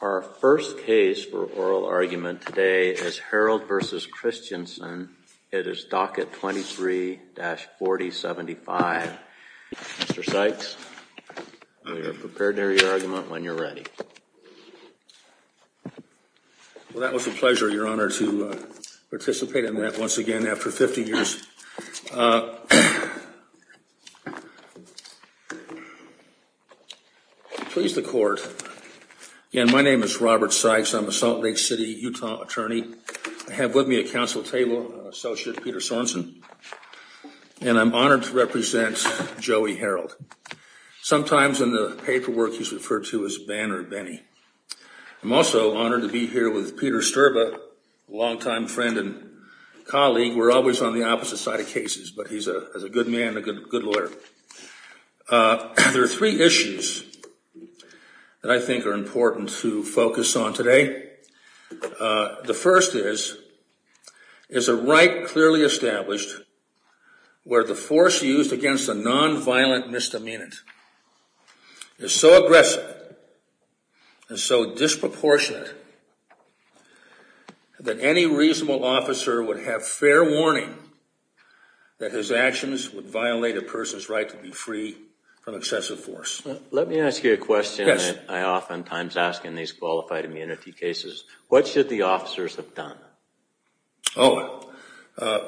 Our first case for oral argument today is Harold v. Christensen. It is docket 23-4075. Mr. Sykes, we are prepared to hear your argument when you're ready. Well, that was a pleasure, Your Honor, to participate in that once again after 50 years. Please the court. My name is Robert Sykes. I'm a Salt Lake City, Utah, attorney. I have with me at counsel table Associate Peter Sorensen. And I'm honored to represent Joey Harold, sometimes in the paperwork he's referred to as Banner Benny. I'm also honored to be here with Peter Sterba, a longtime friend and colleague. We're always on the opposite side of cases, but he's a good man, a good lawyer. There are three issues that I think are important to focus on today. The first is, is a right clearly established where the force used against a nonviolent misdemeanant is so aggressive and so disproportionate that any reasonable officer would have fair warning that his actions would violate a person's right to be free from excessive force. Let me ask you a question that I oftentimes ask in these qualified immunity cases. What should the officers have done? Oh,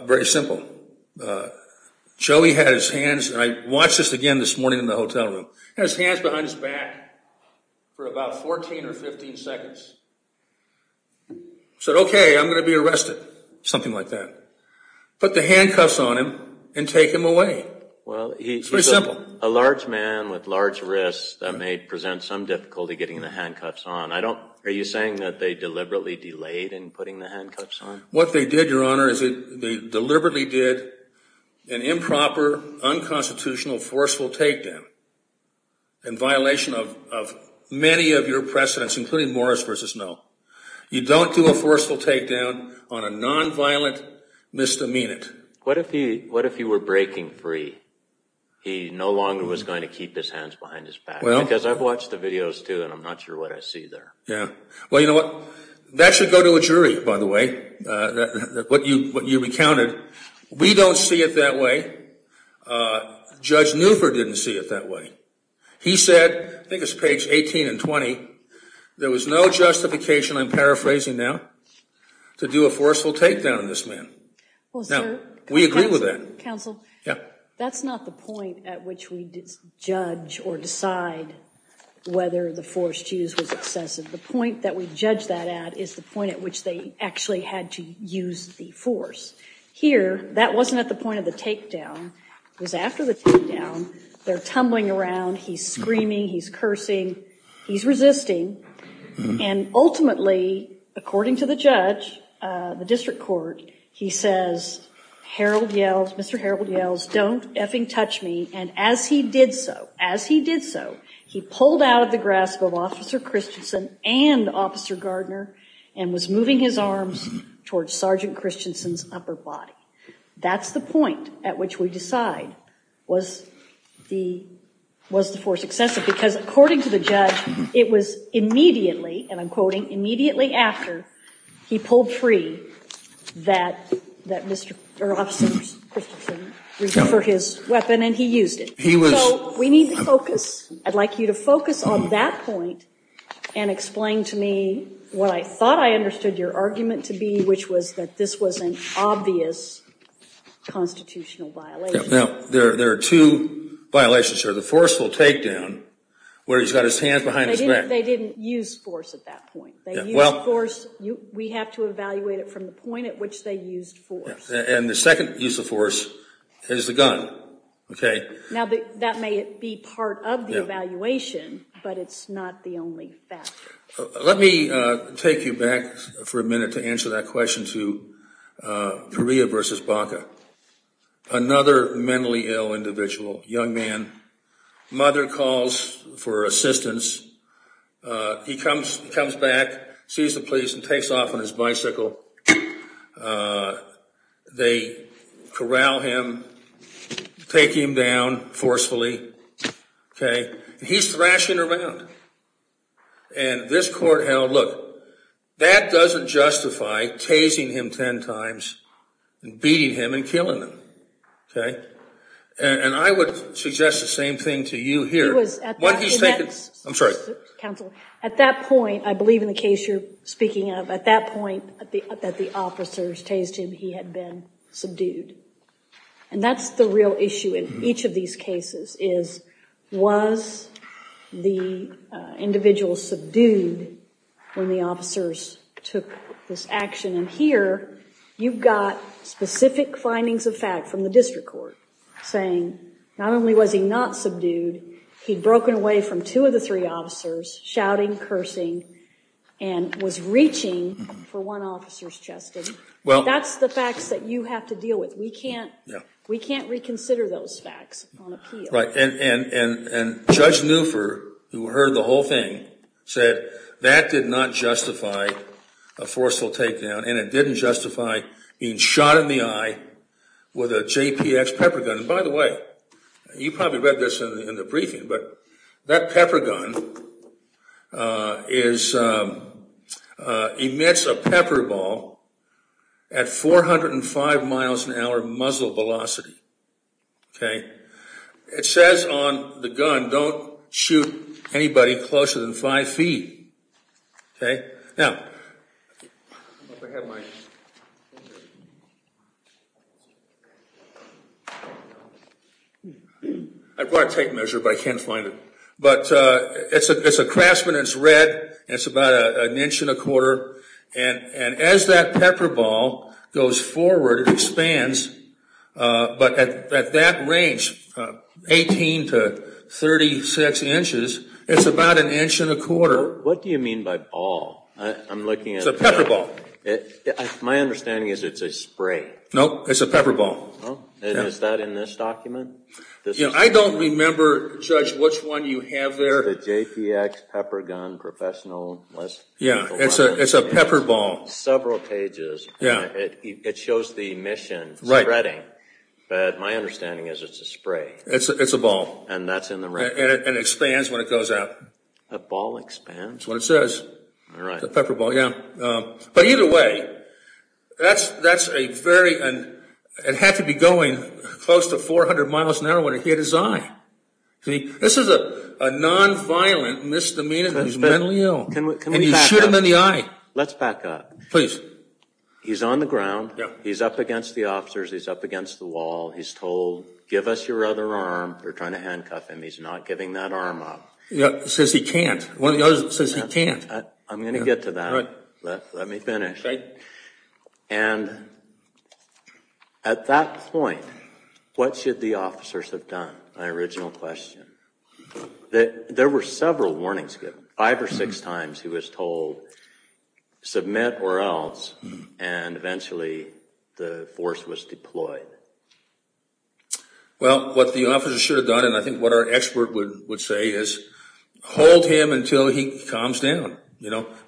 very simple. Joey had his hands, and I watched this again this morning in the hotel room, his hands behind his back for about 14 or 15 seconds. So, OK, I'm going to be arrested, something like that. Put the handcuffs on him and take him away. Well, he's a large man with large wrists that may present some difficulty getting the handcuffs on. I don't. Are you saying that they deliberately delayed in putting the handcuffs on? What they did, Your Honor, is they deliberately did an improper, unconstitutional, forceful takedown in violation of many of your precedents, including Morris v. Snow. You don't do a forceful takedown on a nonviolent misdemeanant. What if he were breaking free? He no longer was going to keep his hands behind his back, because I've watched the videos, too, and I'm not sure what I see there. Well, you know what, that should go to a jury, by the way, what you recounted. We don't see it that way. Judge Newford didn't see it that way. He said, I think it's page 18 and 20, there was no justification, I'm paraphrasing now, to do a forceful takedown on this man. We agree with that. That's not the point at which we judge or decide whether the force used was excessive. The point that we judge that at is the point at which they actually had to use the force. Here, that wasn't at the point of the takedown. It was after the takedown. They're tumbling around. He's screaming. He's cursing. He's resisting. And ultimately, according to the judge, the district court, he says, Harold yells, Mr. Harold yells, don't effing touch me. And as he did so, as he did so, he pulled out of the grasp of Officer Christensen and Officer Gardner and was moving his arms towards Sergeant Christensen's upper body. That's the point at which we decide was the force excessive. Because according to the judge, it was immediately, and I'm quoting, immediately after, he pulled free that Mr. Christensen, for his weapon, and he used it. So we need to focus. I'd like you to focus on that point and explain to me what I thought I understood your argument to be, which was that this was an obvious constitutional violation. Now, there are two violations here. The forceful takedown, where he's got his hands behind his back. They didn't use force at that point. They used force. We have to evaluate it from the point at which they used force. And the second use of force is the gun. Now, that may be part of the evaluation, but it's not the only factor. Let me take you back for a minute to answer that question to Correa versus Baca. Another mentally ill individual, young man, mother calls for assistance. He comes back, sees the police, and takes off on his bicycle. They corral him, take him down forcefully, okay? He's thrashing around. And this court held, look, that doesn't justify tasing him ten times and beating him and killing him, okay? And I would suggest the same thing to you here. I'm sorry. Counsel, at that point, I believe in the case you're speaking of, at that point that the officers tased him, he had been subdued. And that's the real issue in each of these cases is, was the individual subdued when the officers took this action? And here, you've got specific findings of fact from the district court saying, not only was he not subdued, he'd broken away from two of the three officers, shouting, cursing, and was reaching for one officer's chest. That's the facts that you have to deal with. We can't reconsider those facts on appeal. Right. And Judge Newford, who heard the whole thing, said that did not justify a forceful takedown, and it didn't justify being shot in the eye with a JPX pepper gun. And by the way, you probably read this in the briefing, but that pepper gun emits a pepper ball at 405 miles an hour muzzle velocity, okay? It says on the gun, don't shoot anybody closer than five feet, okay? Now, I brought a tape measure, but I can't find it. But it's a Craftsman. It's red. It's about an inch and a quarter. And as that pepper ball goes forward, it expands. But at that range, 18 to 36 inches, it's about an inch and a quarter. What do you mean by ball? It's a pepper ball. My understanding is it's a spray. No, it's a pepper ball. And is that in this document? I don't remember, Judge, which one you have there. It's the JPX pepper gun professional. Yeah, it's a pepper ball. Several pages. It shows the emission spreading. But my understanding is it's a spray. It's a ball. And that's in the record. And it expands when it goes up. A ball expands? That's what it says. All right. The pepper ball, yeah. But either way, that's a very – it had to be going close to 400 miles an hour when it hit his eye. See, this is a nonviolent misdemeanor. He's mentally ill. Can we back up? And you shoot him in the eye. Let's back up. Please. He's on the ground. He's up against the officers. He's up against the wall. He's told, give us your other arm. They're trying to handcuff him. He's not giving that arm up. Yeah, it says he can't. One of the others says he can't. I'm going to get to that. All right. Let me finish. Okay. And at that point, what should the officers have done? My original question. There were several warnings given. Five or six times he was told, submit or else. And eventually the force was deployed. Well, what the officers should have done, and I think what our expert would say, is hold him until he calms down.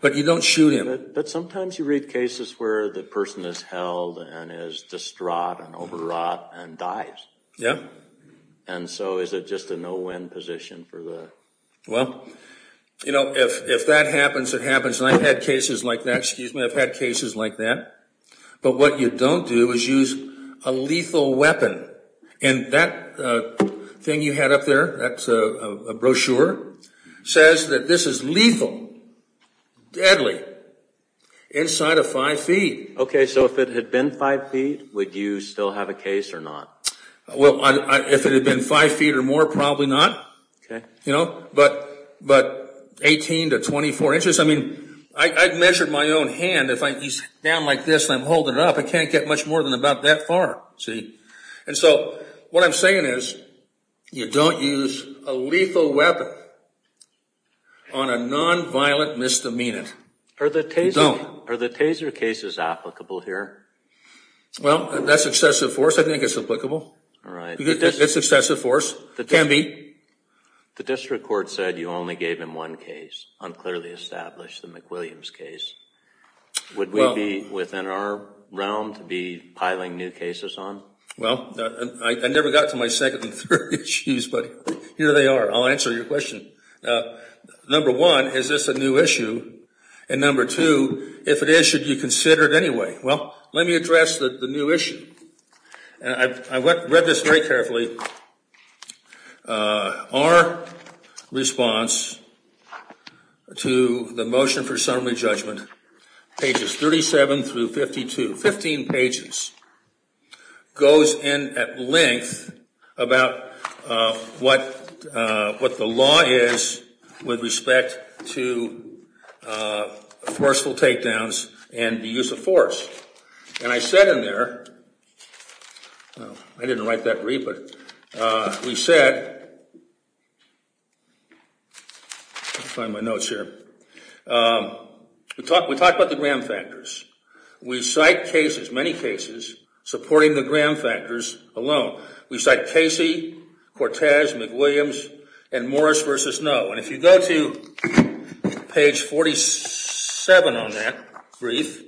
But you don't shoot him. But sometimes you read cases where the person is held and is distraught and overwrought and dies. Yeah. And so is it just a no-win position? Well, if that happens, it happens. And I've had cases like that. Excuse me. I've had cases like that. But what you don't do is use a lethal weapon. And that thing you had up there, that's a brochure, says that this is lethal, deadly, inside of five feet. Okay. So if it had been five feet, would you still have a case or not? Well, if it had been five feet or more, probably not. Okay. But 18 to 24 inches. I've measured my own hand. If he's down like this and I'm holding it up, I can't get much more than about that far, see. And so what I'm saying is you don't use a lethal weapon on a nonviolent misdemeanant. You don't. Are the Taser cases applicable here? Well, that's excessive force. I think it's applicable. It's excessive force. It can be. The district court said you only gave him one case, unclearly established, the McWilliams case. Would we be within our realm to be piling new cases on? Well, I never got to my second and third issues, but here they are. I'll answer your question. Number one, is this a new issue? And number two, if it is, should you consider it anyway? Well, let me address the new issue. I read this very carefully. Our response to the motion for assembly judgment, pages 37 through 52, 15 pages, goes in at length about what the law is with respect to forceful takedowns and the use of force. And I said in there, I didn't write that brief, but we said, let me find my notes here, we talked about the gram factors. We cite cases, many cases, supporting the gram factors alone. We cite Casey, Cortez, McWilliams, and Morris v. Noe. And if you go to page 47 on that brief,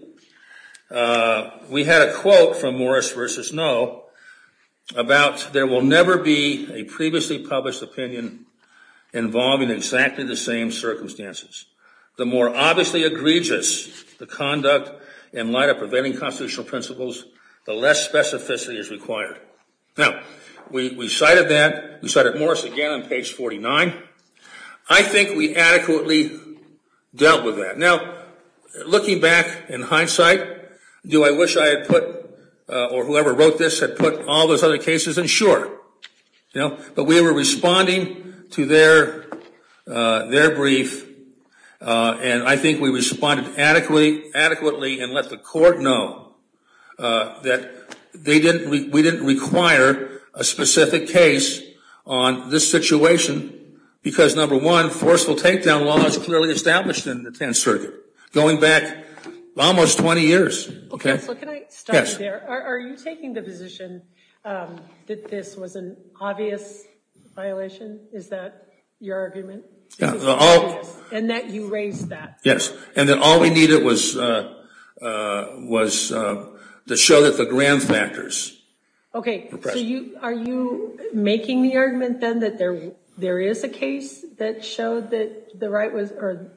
we had a quote from Morris v. Noe about there will never be a previously published opinion involving exactly the same circumstances. The more obviously egregious the conduct in light of preventing constitutional principles, the less specificity is required. Now, we cited that. We cited Morris again on page 49. I think we adequately dealt with that. Now, looking back in hindsight, do I wish I had put, or whoever wrote this had put all those other cases in? Sure. But we were responding to their brief, and I think we responded adequately and let the court know that we didn't require a specific case on this situation because, number one, forceful takedown laws clearly established in the Tenth Circuit, going back almost 20 years. Counsel, can I stop you there? Yes. Are you taking the position that this was an obvious violation? Is that your argument? Yes. And that you raised that? Yes. And that all we needed was to show that the grand factors. Okay. So are you making the argument, then, that there is a case that showed that the right was or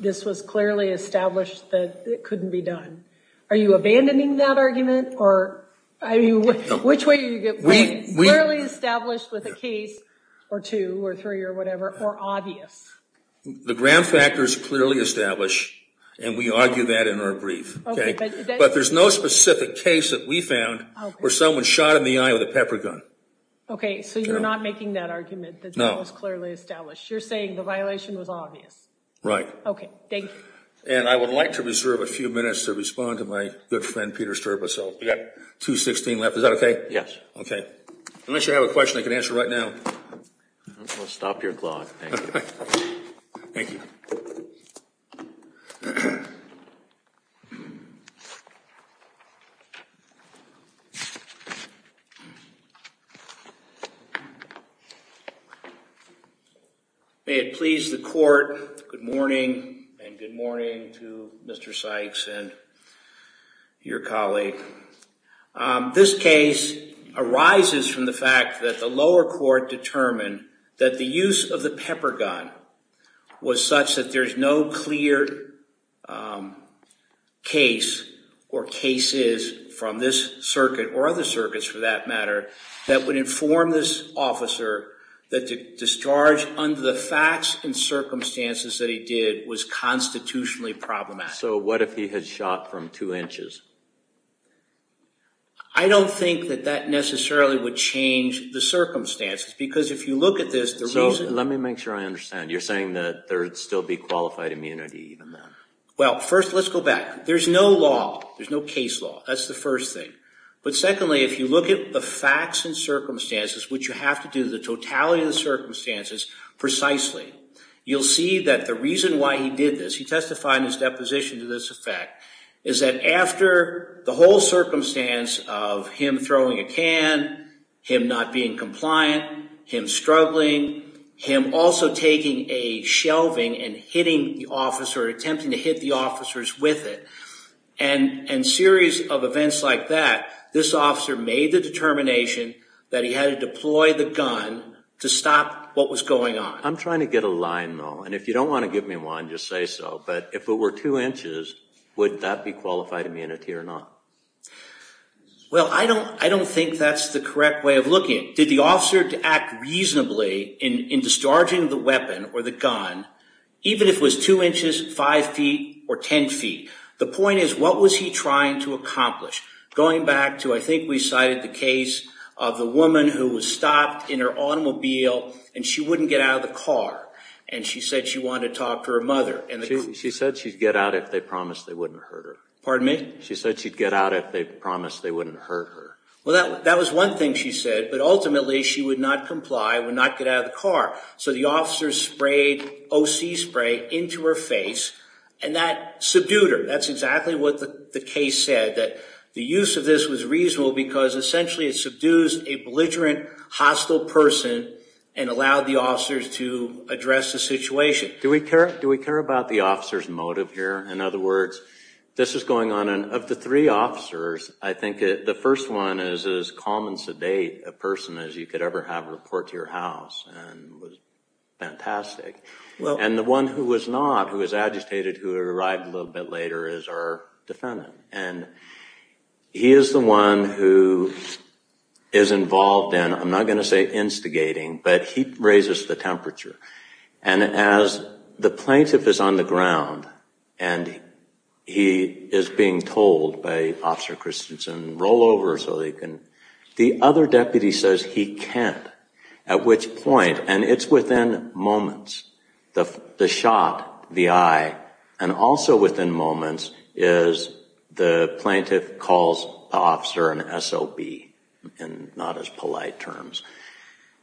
this was clearly established that it couldn't be done? Are you abandoning that argument? Or which way are you going? Clearly established with a case or two or three or whatever, or obvious? The grand factors clearly established, and we argue that in our brief. Okay. But there's no specific case that we found where someone shot in the eye with a pepper gun. Okay. So you're not making that argument that that was clearly established? No. You're saying the violation was obvious? Right. Okay. Thank you. And I would like to reserve a few minutes to respond to my good friend, Peter Sterba. So we've got 2.16 left. Is that okay? Yes. Okay. Unless you have a question I can answer right now. I'm going to stop your clock. Thank you. Thank you. May it please the Court, good morning, and good morning to Mr. Sykes and your colleague. This case arises from the fact that the lower court determined that the use of the pepper gun was such that there's no clear case or cases from this circuit, or other circuits for that matter, that would inform this officer that the discharge under the facts and circumstances that he did was constitutionally problematic. So what if he had shot from two inches? I don't think that that necessarily would change the circumstances, because if you look at this, the reason... So let me make sure I understand. You're saying that there would still be qualified immunity even then? Well, first, let's go back. There's no law. There's no case law. That's the first thing. But secondly, if you look at the facts and circumstances, which you have to do the totality of the circumstances precisely, you'll see that the reason why he did this, he testified in his deposition to this effect, is that after the whole circumstance of him throwing a can, him not being compliant, him struggling, him also taking a shelving and hitting the officer or attempting to hit the officers with it, and series of events like that, this officer made the determination that he had to deploy the gun to stop what was going on. I'm trying to get a line, though. And if you don't want to give me one, just say so. But if it were two inches, would that be qualified immunity or not? Well, I don't think that's the correct way of looking at it. Did the officer act reasonably in discharging the weapon or the gun, even if it was two inches, five feet, or ten feet? The point is, what was he trying to accomplish? Going back to, I think we cited the case of the woman who was stopped in her automobile, and she wouldn't get out of the car. And she said she wanted to talk to her mother. She said she'd get out if they promised they wouldn't hurt her. Pardon me? She said she'd get out if they promised they wouldn't hurt her. Well, that was one thing she said, but ultimately she would not comply, would not get out of the car. So the officer sprayed O.C. spray into her face, and that subdued her. That's exactly what the case said, that the use of this was reasonable because essentially it subdued a belligerent, hostile person and allowed the officers to address the situation. Do we care about the officer's motive here? In other words, this is going on. Of the three officers, I think the first one is as calm and sedate a person as you could ever have report to your house and was fantastic. And the one who was not, who was agitated, who arrived a little bit later, is our defendant. And he is the one who is involved in, I'm not going to say instigating, but he raises the temperature. And as the plaintiff is on the ground and he is being told by Officer Christensen, roll over so they can, the other deputy says he can't, at which point, and it's within moments, the shot, the eye, and also within moments is the plaintiff calls the officer an SOB, in not as polite terms.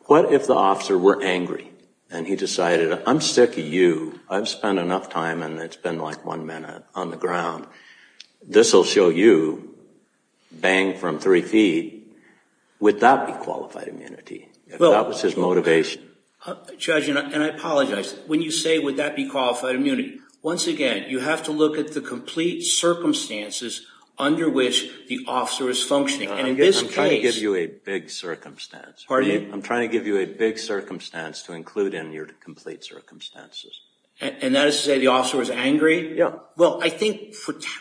What if the officer were angry and he decided, I'm sick of you, I've spent enough time and it's been like one minute on the ground, this will show you, bang from three feet, would that be qualified immunity? If that was his motivation. Judge, and I apologize, when you say would that be qualified immunity, once again, you have to look at the complete circumstances under which the officer is functioning. And in this case. I'm trying to give you a big circumstance. Pardon me? I'm trying to give you a big circumstance to include in your complete circumstances. And that is to say the officer was angry? Well, I think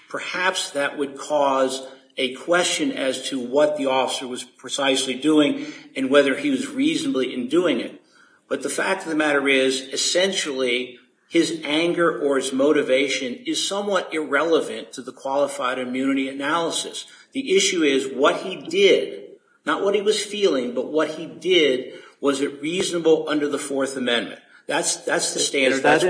perhaps that would cause a question as to what the officer was precisely doing and whether he was reasonably in doing it. But the fact of the matter is, essentially, his anger or his motivation is somewhat irrelevant to the qualified immunity analysis. The issue is what he did, not what he was feeling, but what he did, was it reasonable under the Fourth Amendment? That's the standard. Is that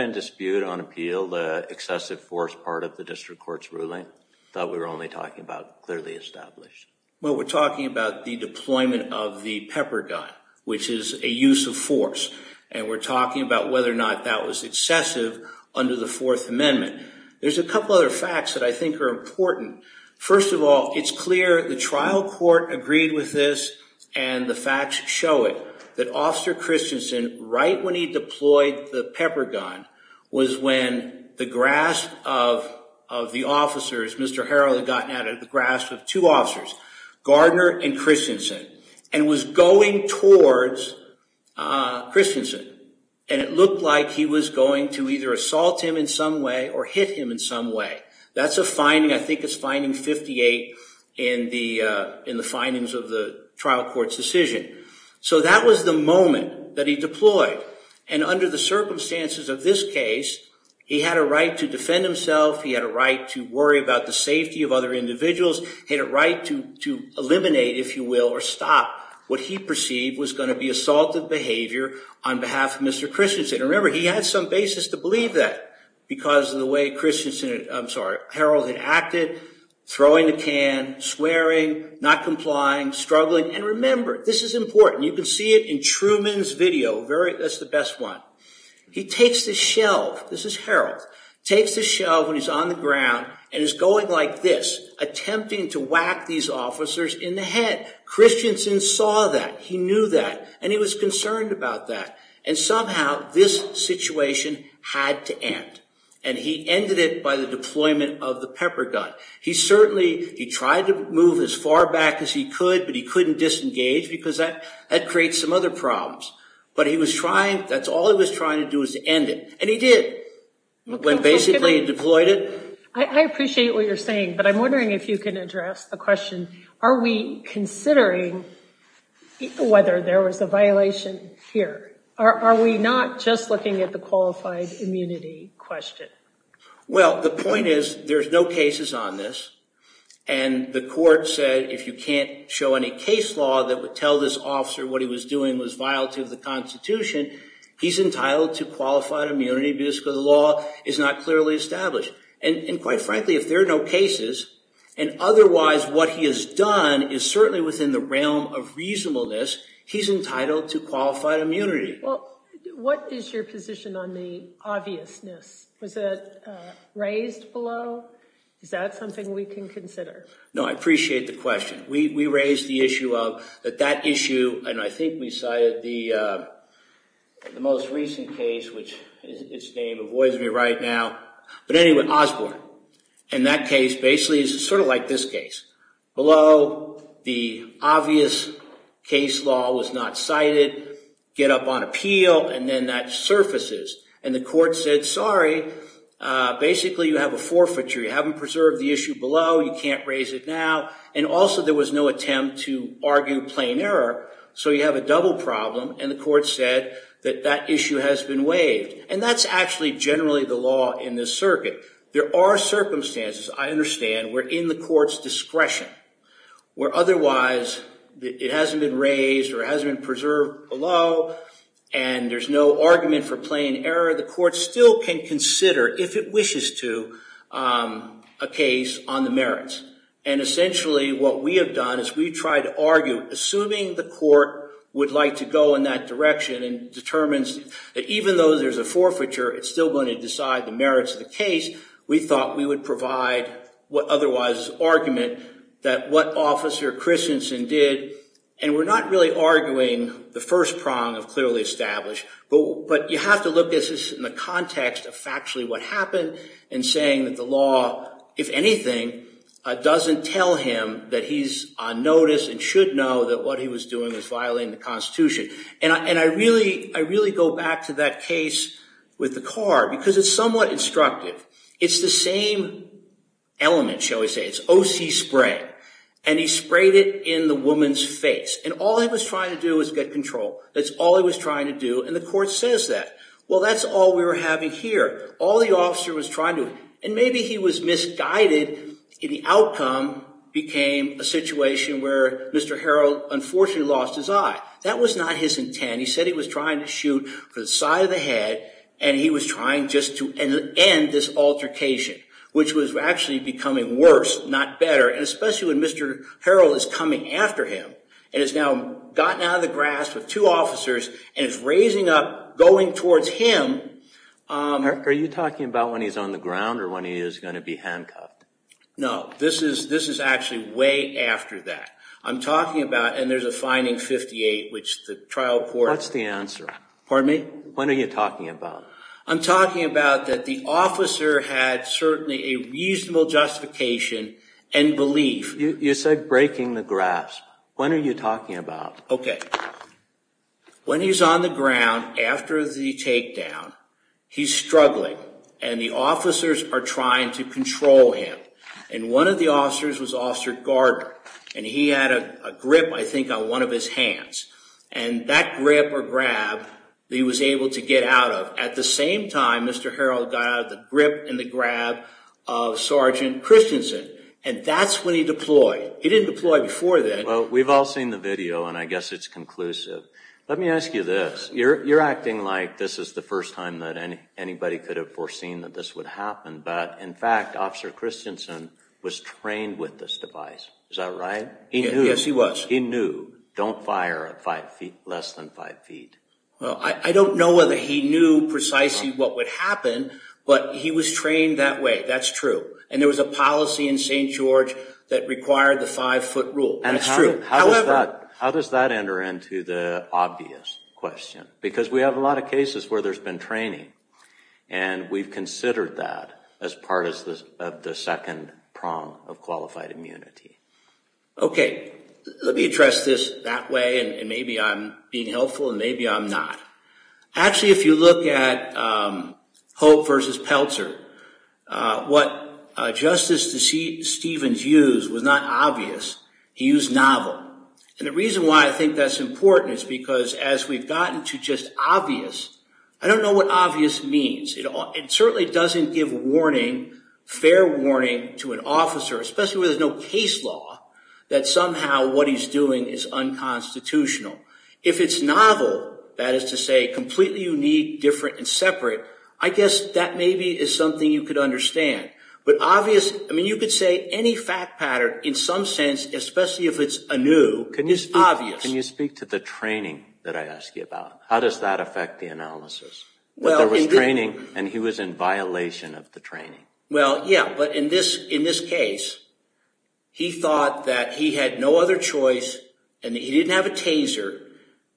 in dispute on appeal, the excessive force part of the district court's ruling? I thought we were only talking about clearly established. Well, we're talking about the deployment of the pepper gun, which is a use of force. And we're talking about whether or not that was excessive under the Fourth Amendment. There's a couple other facts that I think are important. First of all, it's clear the trial court agreed with this, and the facts show it, that Officer Christensen, right when he deployed the pepper gun, was when the grasp of the officers, Mr. Harrell had gotten out of the grasp of two officers, Gardner and Christensen, and was going towards Christensen. And it looked like he was going to either assault him in some way or hit him in some way. That's a finding. I think it's finding 58 in the findings of the trial court's decision. So that was the moment that he deployed. And under the circumstances of this case, he had a right to defend himself. He had a right to worry about the safety of other individuals. He had a right to eliminate, if you will, or stop what he perceived was going to be assaultive behavior on behalf of Mr. Christensen. And remember, he had some basis to believe that because of the way Harrell had acted, throwing the can, swearing, not complying, struggling. And remember, this is important. You can see it in Truman's video. That's the best one. He takes the shelf. This is Harrell. Takes the shelf when he's on the ground and is going like this, attempting to whack these officers in the head. Christensen saw that. He knew that. And he was concerned about that. And somehow this situation had to end. And he ended it by the deployment of the pepper gun. He certainly tried to move as far back as he could, but he couldn't disengage because that creates some other problems. But that's all he was trying to do was to end it. And he did when basically he deployed it. I appreciate what you're saying, but I'm wondering if you can address the question, are we considering whether there was a violation here? Are we not just looking at the qualified immunity question? Well, the point is there's no cases on this. And the court said if you can't show any case law that would tell this officer what he was doing was violative of the Constitution, he's entitled to qualified immunity because the law is not clearly established. And quite frankly, if there are no cases, and otherwise what he has done is certainly within the realm of reasonableness, he's entitled to qualified immunity. Well, what is your position on the obviousness? Was it raised below? Is that something we can consider? No, I appreciate the question. We raised the issue of that that issue, and I think we cited the most recent case, which its name avoids me right now. But anyway, Osborne. And that case basically is sort of like this case. Below, the obvious case law was not cited. Get up on appeal, and then that surfaces. And the court said, sorry, basically you have a forfeiture. You haven't preserved the issue below. You can't raise it now. And also there was no attempt to argue plain error, so you have a double problem. And the court said that that issue has been waived. And that's actually generally the law in this circuit. There are circumstances, I understand, where in the court's discretion, where otherwise it hasn't been raised or it hasn't been preserved below, and there's no argument for plain error, the court still can consider, if it wishes to, a case on the merits. And essentially what we have done is we've tried to argue, assuming the court would like to go in that direction and determines that even though there's a forfeiture, it's still going to decide the merits of the case, we thought we would provide what otherwise is argument that what Officer Christensen did. And we're not really arguing the first prong of clearly established, but you have to look at this in the context of factually what happened and saying that the law, if anything, doesn't tell him that he's on notice and should know that what he was doing was violating the Constitution. And I really go back to that case with the car, because it's somewhat instructive. It's the same element, shall we say. It's OC spray, and he sprayed it in the woman's face. And all he was trying to do was get control. That's all he was trying to do, and the court says that. Well, that's all we were having here. All the officer was trying to do. And maybe he was misguided, and the outcome became a situation where Mr. Harrell unfortunately lost his eye. That was not his intent. He said he was trying to shoot for the side of the head, and he was trying just to end this altercation, which was actually becoming worse, not better, especially when Mr. Harrell is coming after him and has now gotten out of the grasp of two officers and is raising up, going towards him. Eric, are you talking about when he's on the ground or when he is going to be handcuffed? No, this is actually way after that. I'm talking about, and there's a finding 58, which the trial court... What's the answer? Pardon me? What are you talking about? I'm talking about that the officer had certainly a reasonable justification and belief... You said breaking the grasp. When are you talking about? Okay. When he's on the ground after the takedown, he's struggling, and the officers are trying to control him. And one of the officers was Officer Gardner, and he had a grip, I think, on one of his hands. And that grip or grab that he was able to get out of at the same time Mr. Harrell got out of the grip and the grab of Sergeant Christensen, and that's when he deployed. He didn't deploy before then. Well, we've all seen the video, and I guess it's conclusive. Let me ask you this. You're acting like this is the first time that anybody could have foreseen that this would happen, but in fact, Officer Christensen was trained with this device. Is that right? Yes, he was. He knew, don't fire at less than 5 feet. I don't know whether he knew precisely what would happen, but he was trained that way. That's true. And there was a policy in St. George that required the 5-foot rule. That's true. How does that enter into the obvious question? Because we have a lot of cases where there's been training, and we've considered that as part of the second prong of qualified immunity. Okay. Let me address this that way, and maybe I'm being helpful, and maybe I'm not. Actually, if you look at Hope versus Pelzer, what Justice Stevens used was not obvious. He used novel. And the reason why I think that's important is because as we've gotten to just obvious, I don't know what obvious means. It certainly doesn't give fair warning to an officer, especially where there's no case law, that somehow what he's doing is unconstitutional. If it's novel, that is to say completely unique, different, and separate, I guess that maybe is something you could understand. But obvious, I mean, you could say any fact pattern in some sense, especially if it's anew, is obvious. Can you speak to the training that I asked you about? How does that affect the analysis? There was training, and he was in violation of the training. Well, yeah, but in this case, he thought that he had no other choice, and he didn't have a taser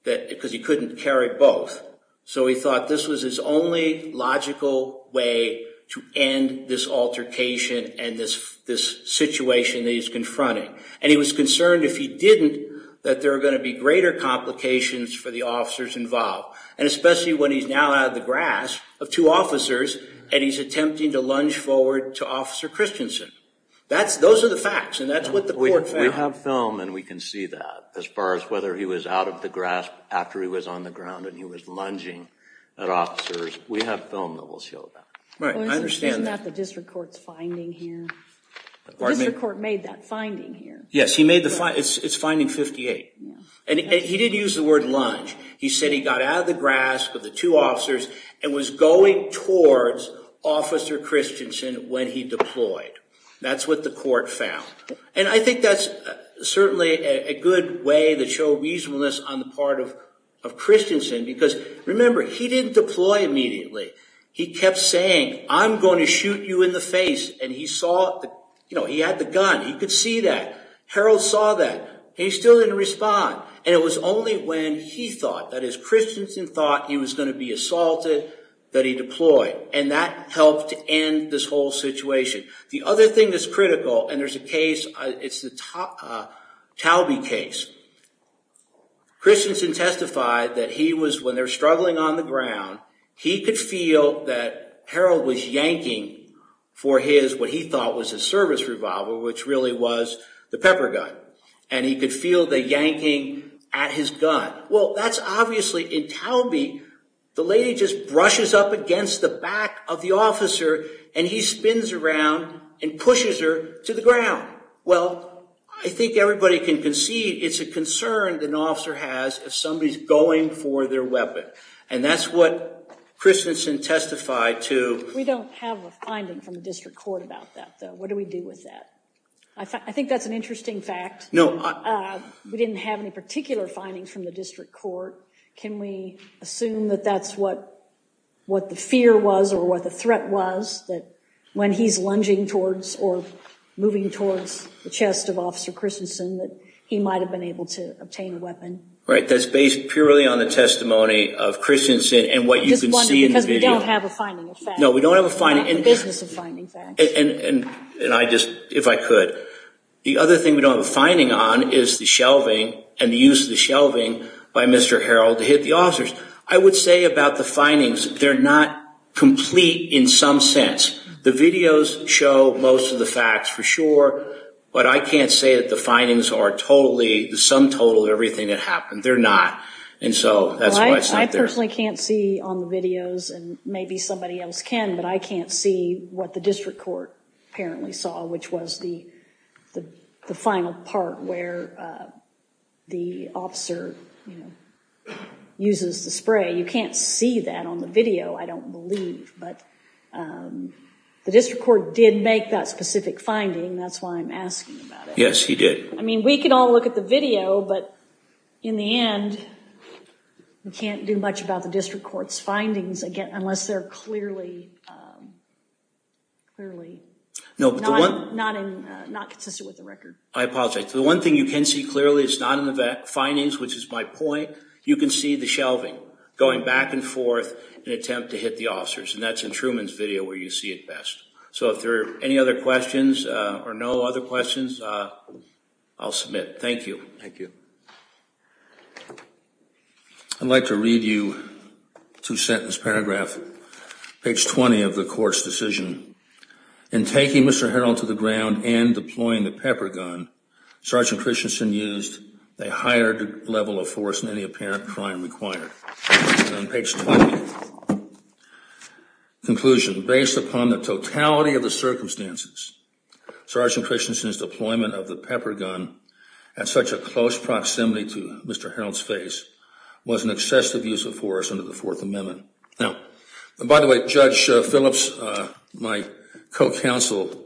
because he couldn't carry both. So he thought this was his only logical way to end this altercation and this situation that he's confronting. And he was concerned if he didn't, that there were going to be greater complications for the officers involved, and especially when he's now out of the grasp of two officers and he's attempting to lunge forward to Officer Christensen. Those are the facts, and that's what the court found. We have film, and we can see that. As far as whether he was out of the grasp after he was on the ground and he was lunging at officers, we have film that will show that. Right, I understand that. Isn't that the district court's finding here? The district court made that finding here. Yes, it's finding 58. And he didn't use the word lunge. He said he got out of the grasp of the two officers and was going towards Officer Christensen when he deployed. That's what the court found. And I think that's certainly a good way to show reasonableness on the part of Christensen because, remember, he didn't deploy immediately. He kept saying, I'm going to shoot you in the face. And he saw, you know, he had the gun. He could see that. Harold saw that. He still didn't respond. And it was only when he thought, that is, Christensen thought he was going to be assaulted, that he deployed. And that helped to end this whole situation. The other thing that's critical, and there's a case, it's the Talby case. Christensen testified that he was, when they're struggling on the ground, he could feel that Harold was yanking for his, what he thought was his service revolver, which really was the pepper gun. And he could feel the yanking at his gun. Well, that's obviously, in Talby, the lady just brushes up against the back of the officer, and he spins around and pushes her to the ground. Well, I think everybody can concede it's a concern an officer has if somebody is going for their weapon. And that's what Christensen testified to. We don't have a finding from the district court about that, though. What do we do with that? I think that's an interesting fact. We didn't have any particular findings from the district court. Can we assume that that's what the fear was or what the threat was, that when he's lunging towards or moving towards the chest of Officer Christensen that he might have been able to obtain a weapon? Right, that's based purely on the testimony of Christensen and what you can see in the video. I'm just wondering, because we don't have a finding of facts. No, we don't have a finding. We're not in the business of finding facts. And I just, if I could, the other thing we don't have a finding on is the shelving and the use of the shelving by Mr. Harrell to hit the officers. I would say about the findings, they're not complete in some sense. The videos show most of the facts for sure, but I can't say that the findings are totally, the sum total of everything that happened. They're not. And so that's why it's not there. I personally can't see on the videos, and maybe somebody else can, but I can't see what the district court apparently saw, which was the final part where the officer uses the spray. You can't see that on the video, I don't believe, but the district court did make that specific finding. That's why I'm asking about it. Yes, he did. I mean, we can all look at the video, but in the end we can't do much about the district court's findings unless they're clearly not consistent with the record. I apologize. The one thing you can see clearly is not in the findings, which is my point. You can see the shelving going back and forth in an attempt to hit the officers, and that's in Truman's video where you see it best. So if there are any other questions or no other questions, I'll submit. Thank you. Thank you. I'd like to read you two-sentence paragraph, page 20 of the court's decision. In taking Mr. Harrell to the ground and deploying the pepper gun, Sergeant Christensen used a higher level of force than any apparent crime required. And on page 20, conclusion. Based upon the totality of the circumstances, Sergeant Christensen's deployment of the pepper gun at such a close proximity to Mr. Harrell's face was an excessive use of force under the Fourth Amendment. Now, by the way, Judge Phillips, my co-counsel,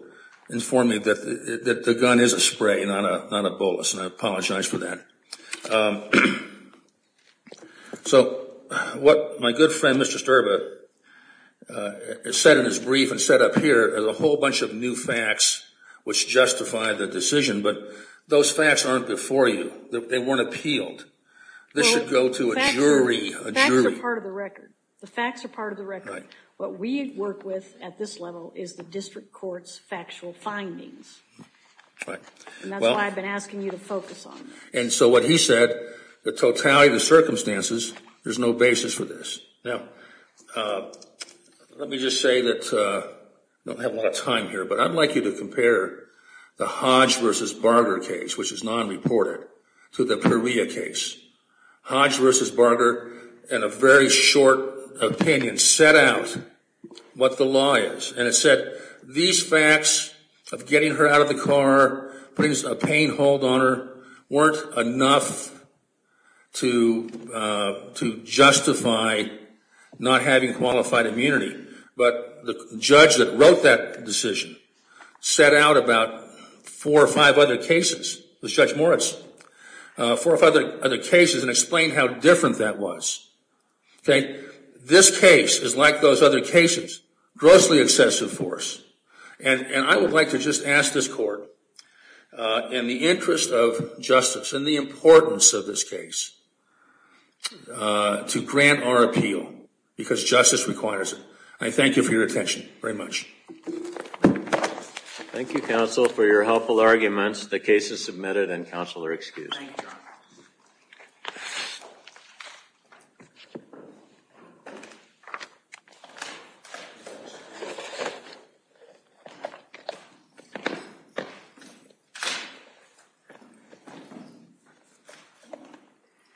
informed me that the gun is a spray, not a bolus, and I apologize for that. So what my good friend, Mr. Sterba, said in his brief and said up here, there's a whole bunch of new facts which justify the decision, but those facts aren't before you. They weren't appealed. This should go to a jury. Facts are part of the record. The facts are part of the record. What we work with at this level is the district court's factual findings. And that's why I've been asking you to focus on that. And so what he said, the totality of the circumstances, there's no basis for this. Now, let me just say that I don't have a lot of time here, but I'd like you to compare the Hodge versus Barger case, which is non-reported, to the Perea case. Hodge versus Barger, in a very short opinion, set out what the law is. And it said these facts of getting her out of the car, putting a pain hold on her, weren't enough to justify not having qualified immunity. But the judge that wrote that decision set out about four or five other cases, Judge Moritz, four or five other cases and explained how different that was. This case is like those other cases, grossly excessive for us. And I would like to just ask this court, in the interest of justice requires it. I thank you for your attention very much. Thank you, counsel, for your helpful arguments. The case is submitted and counsel are excused.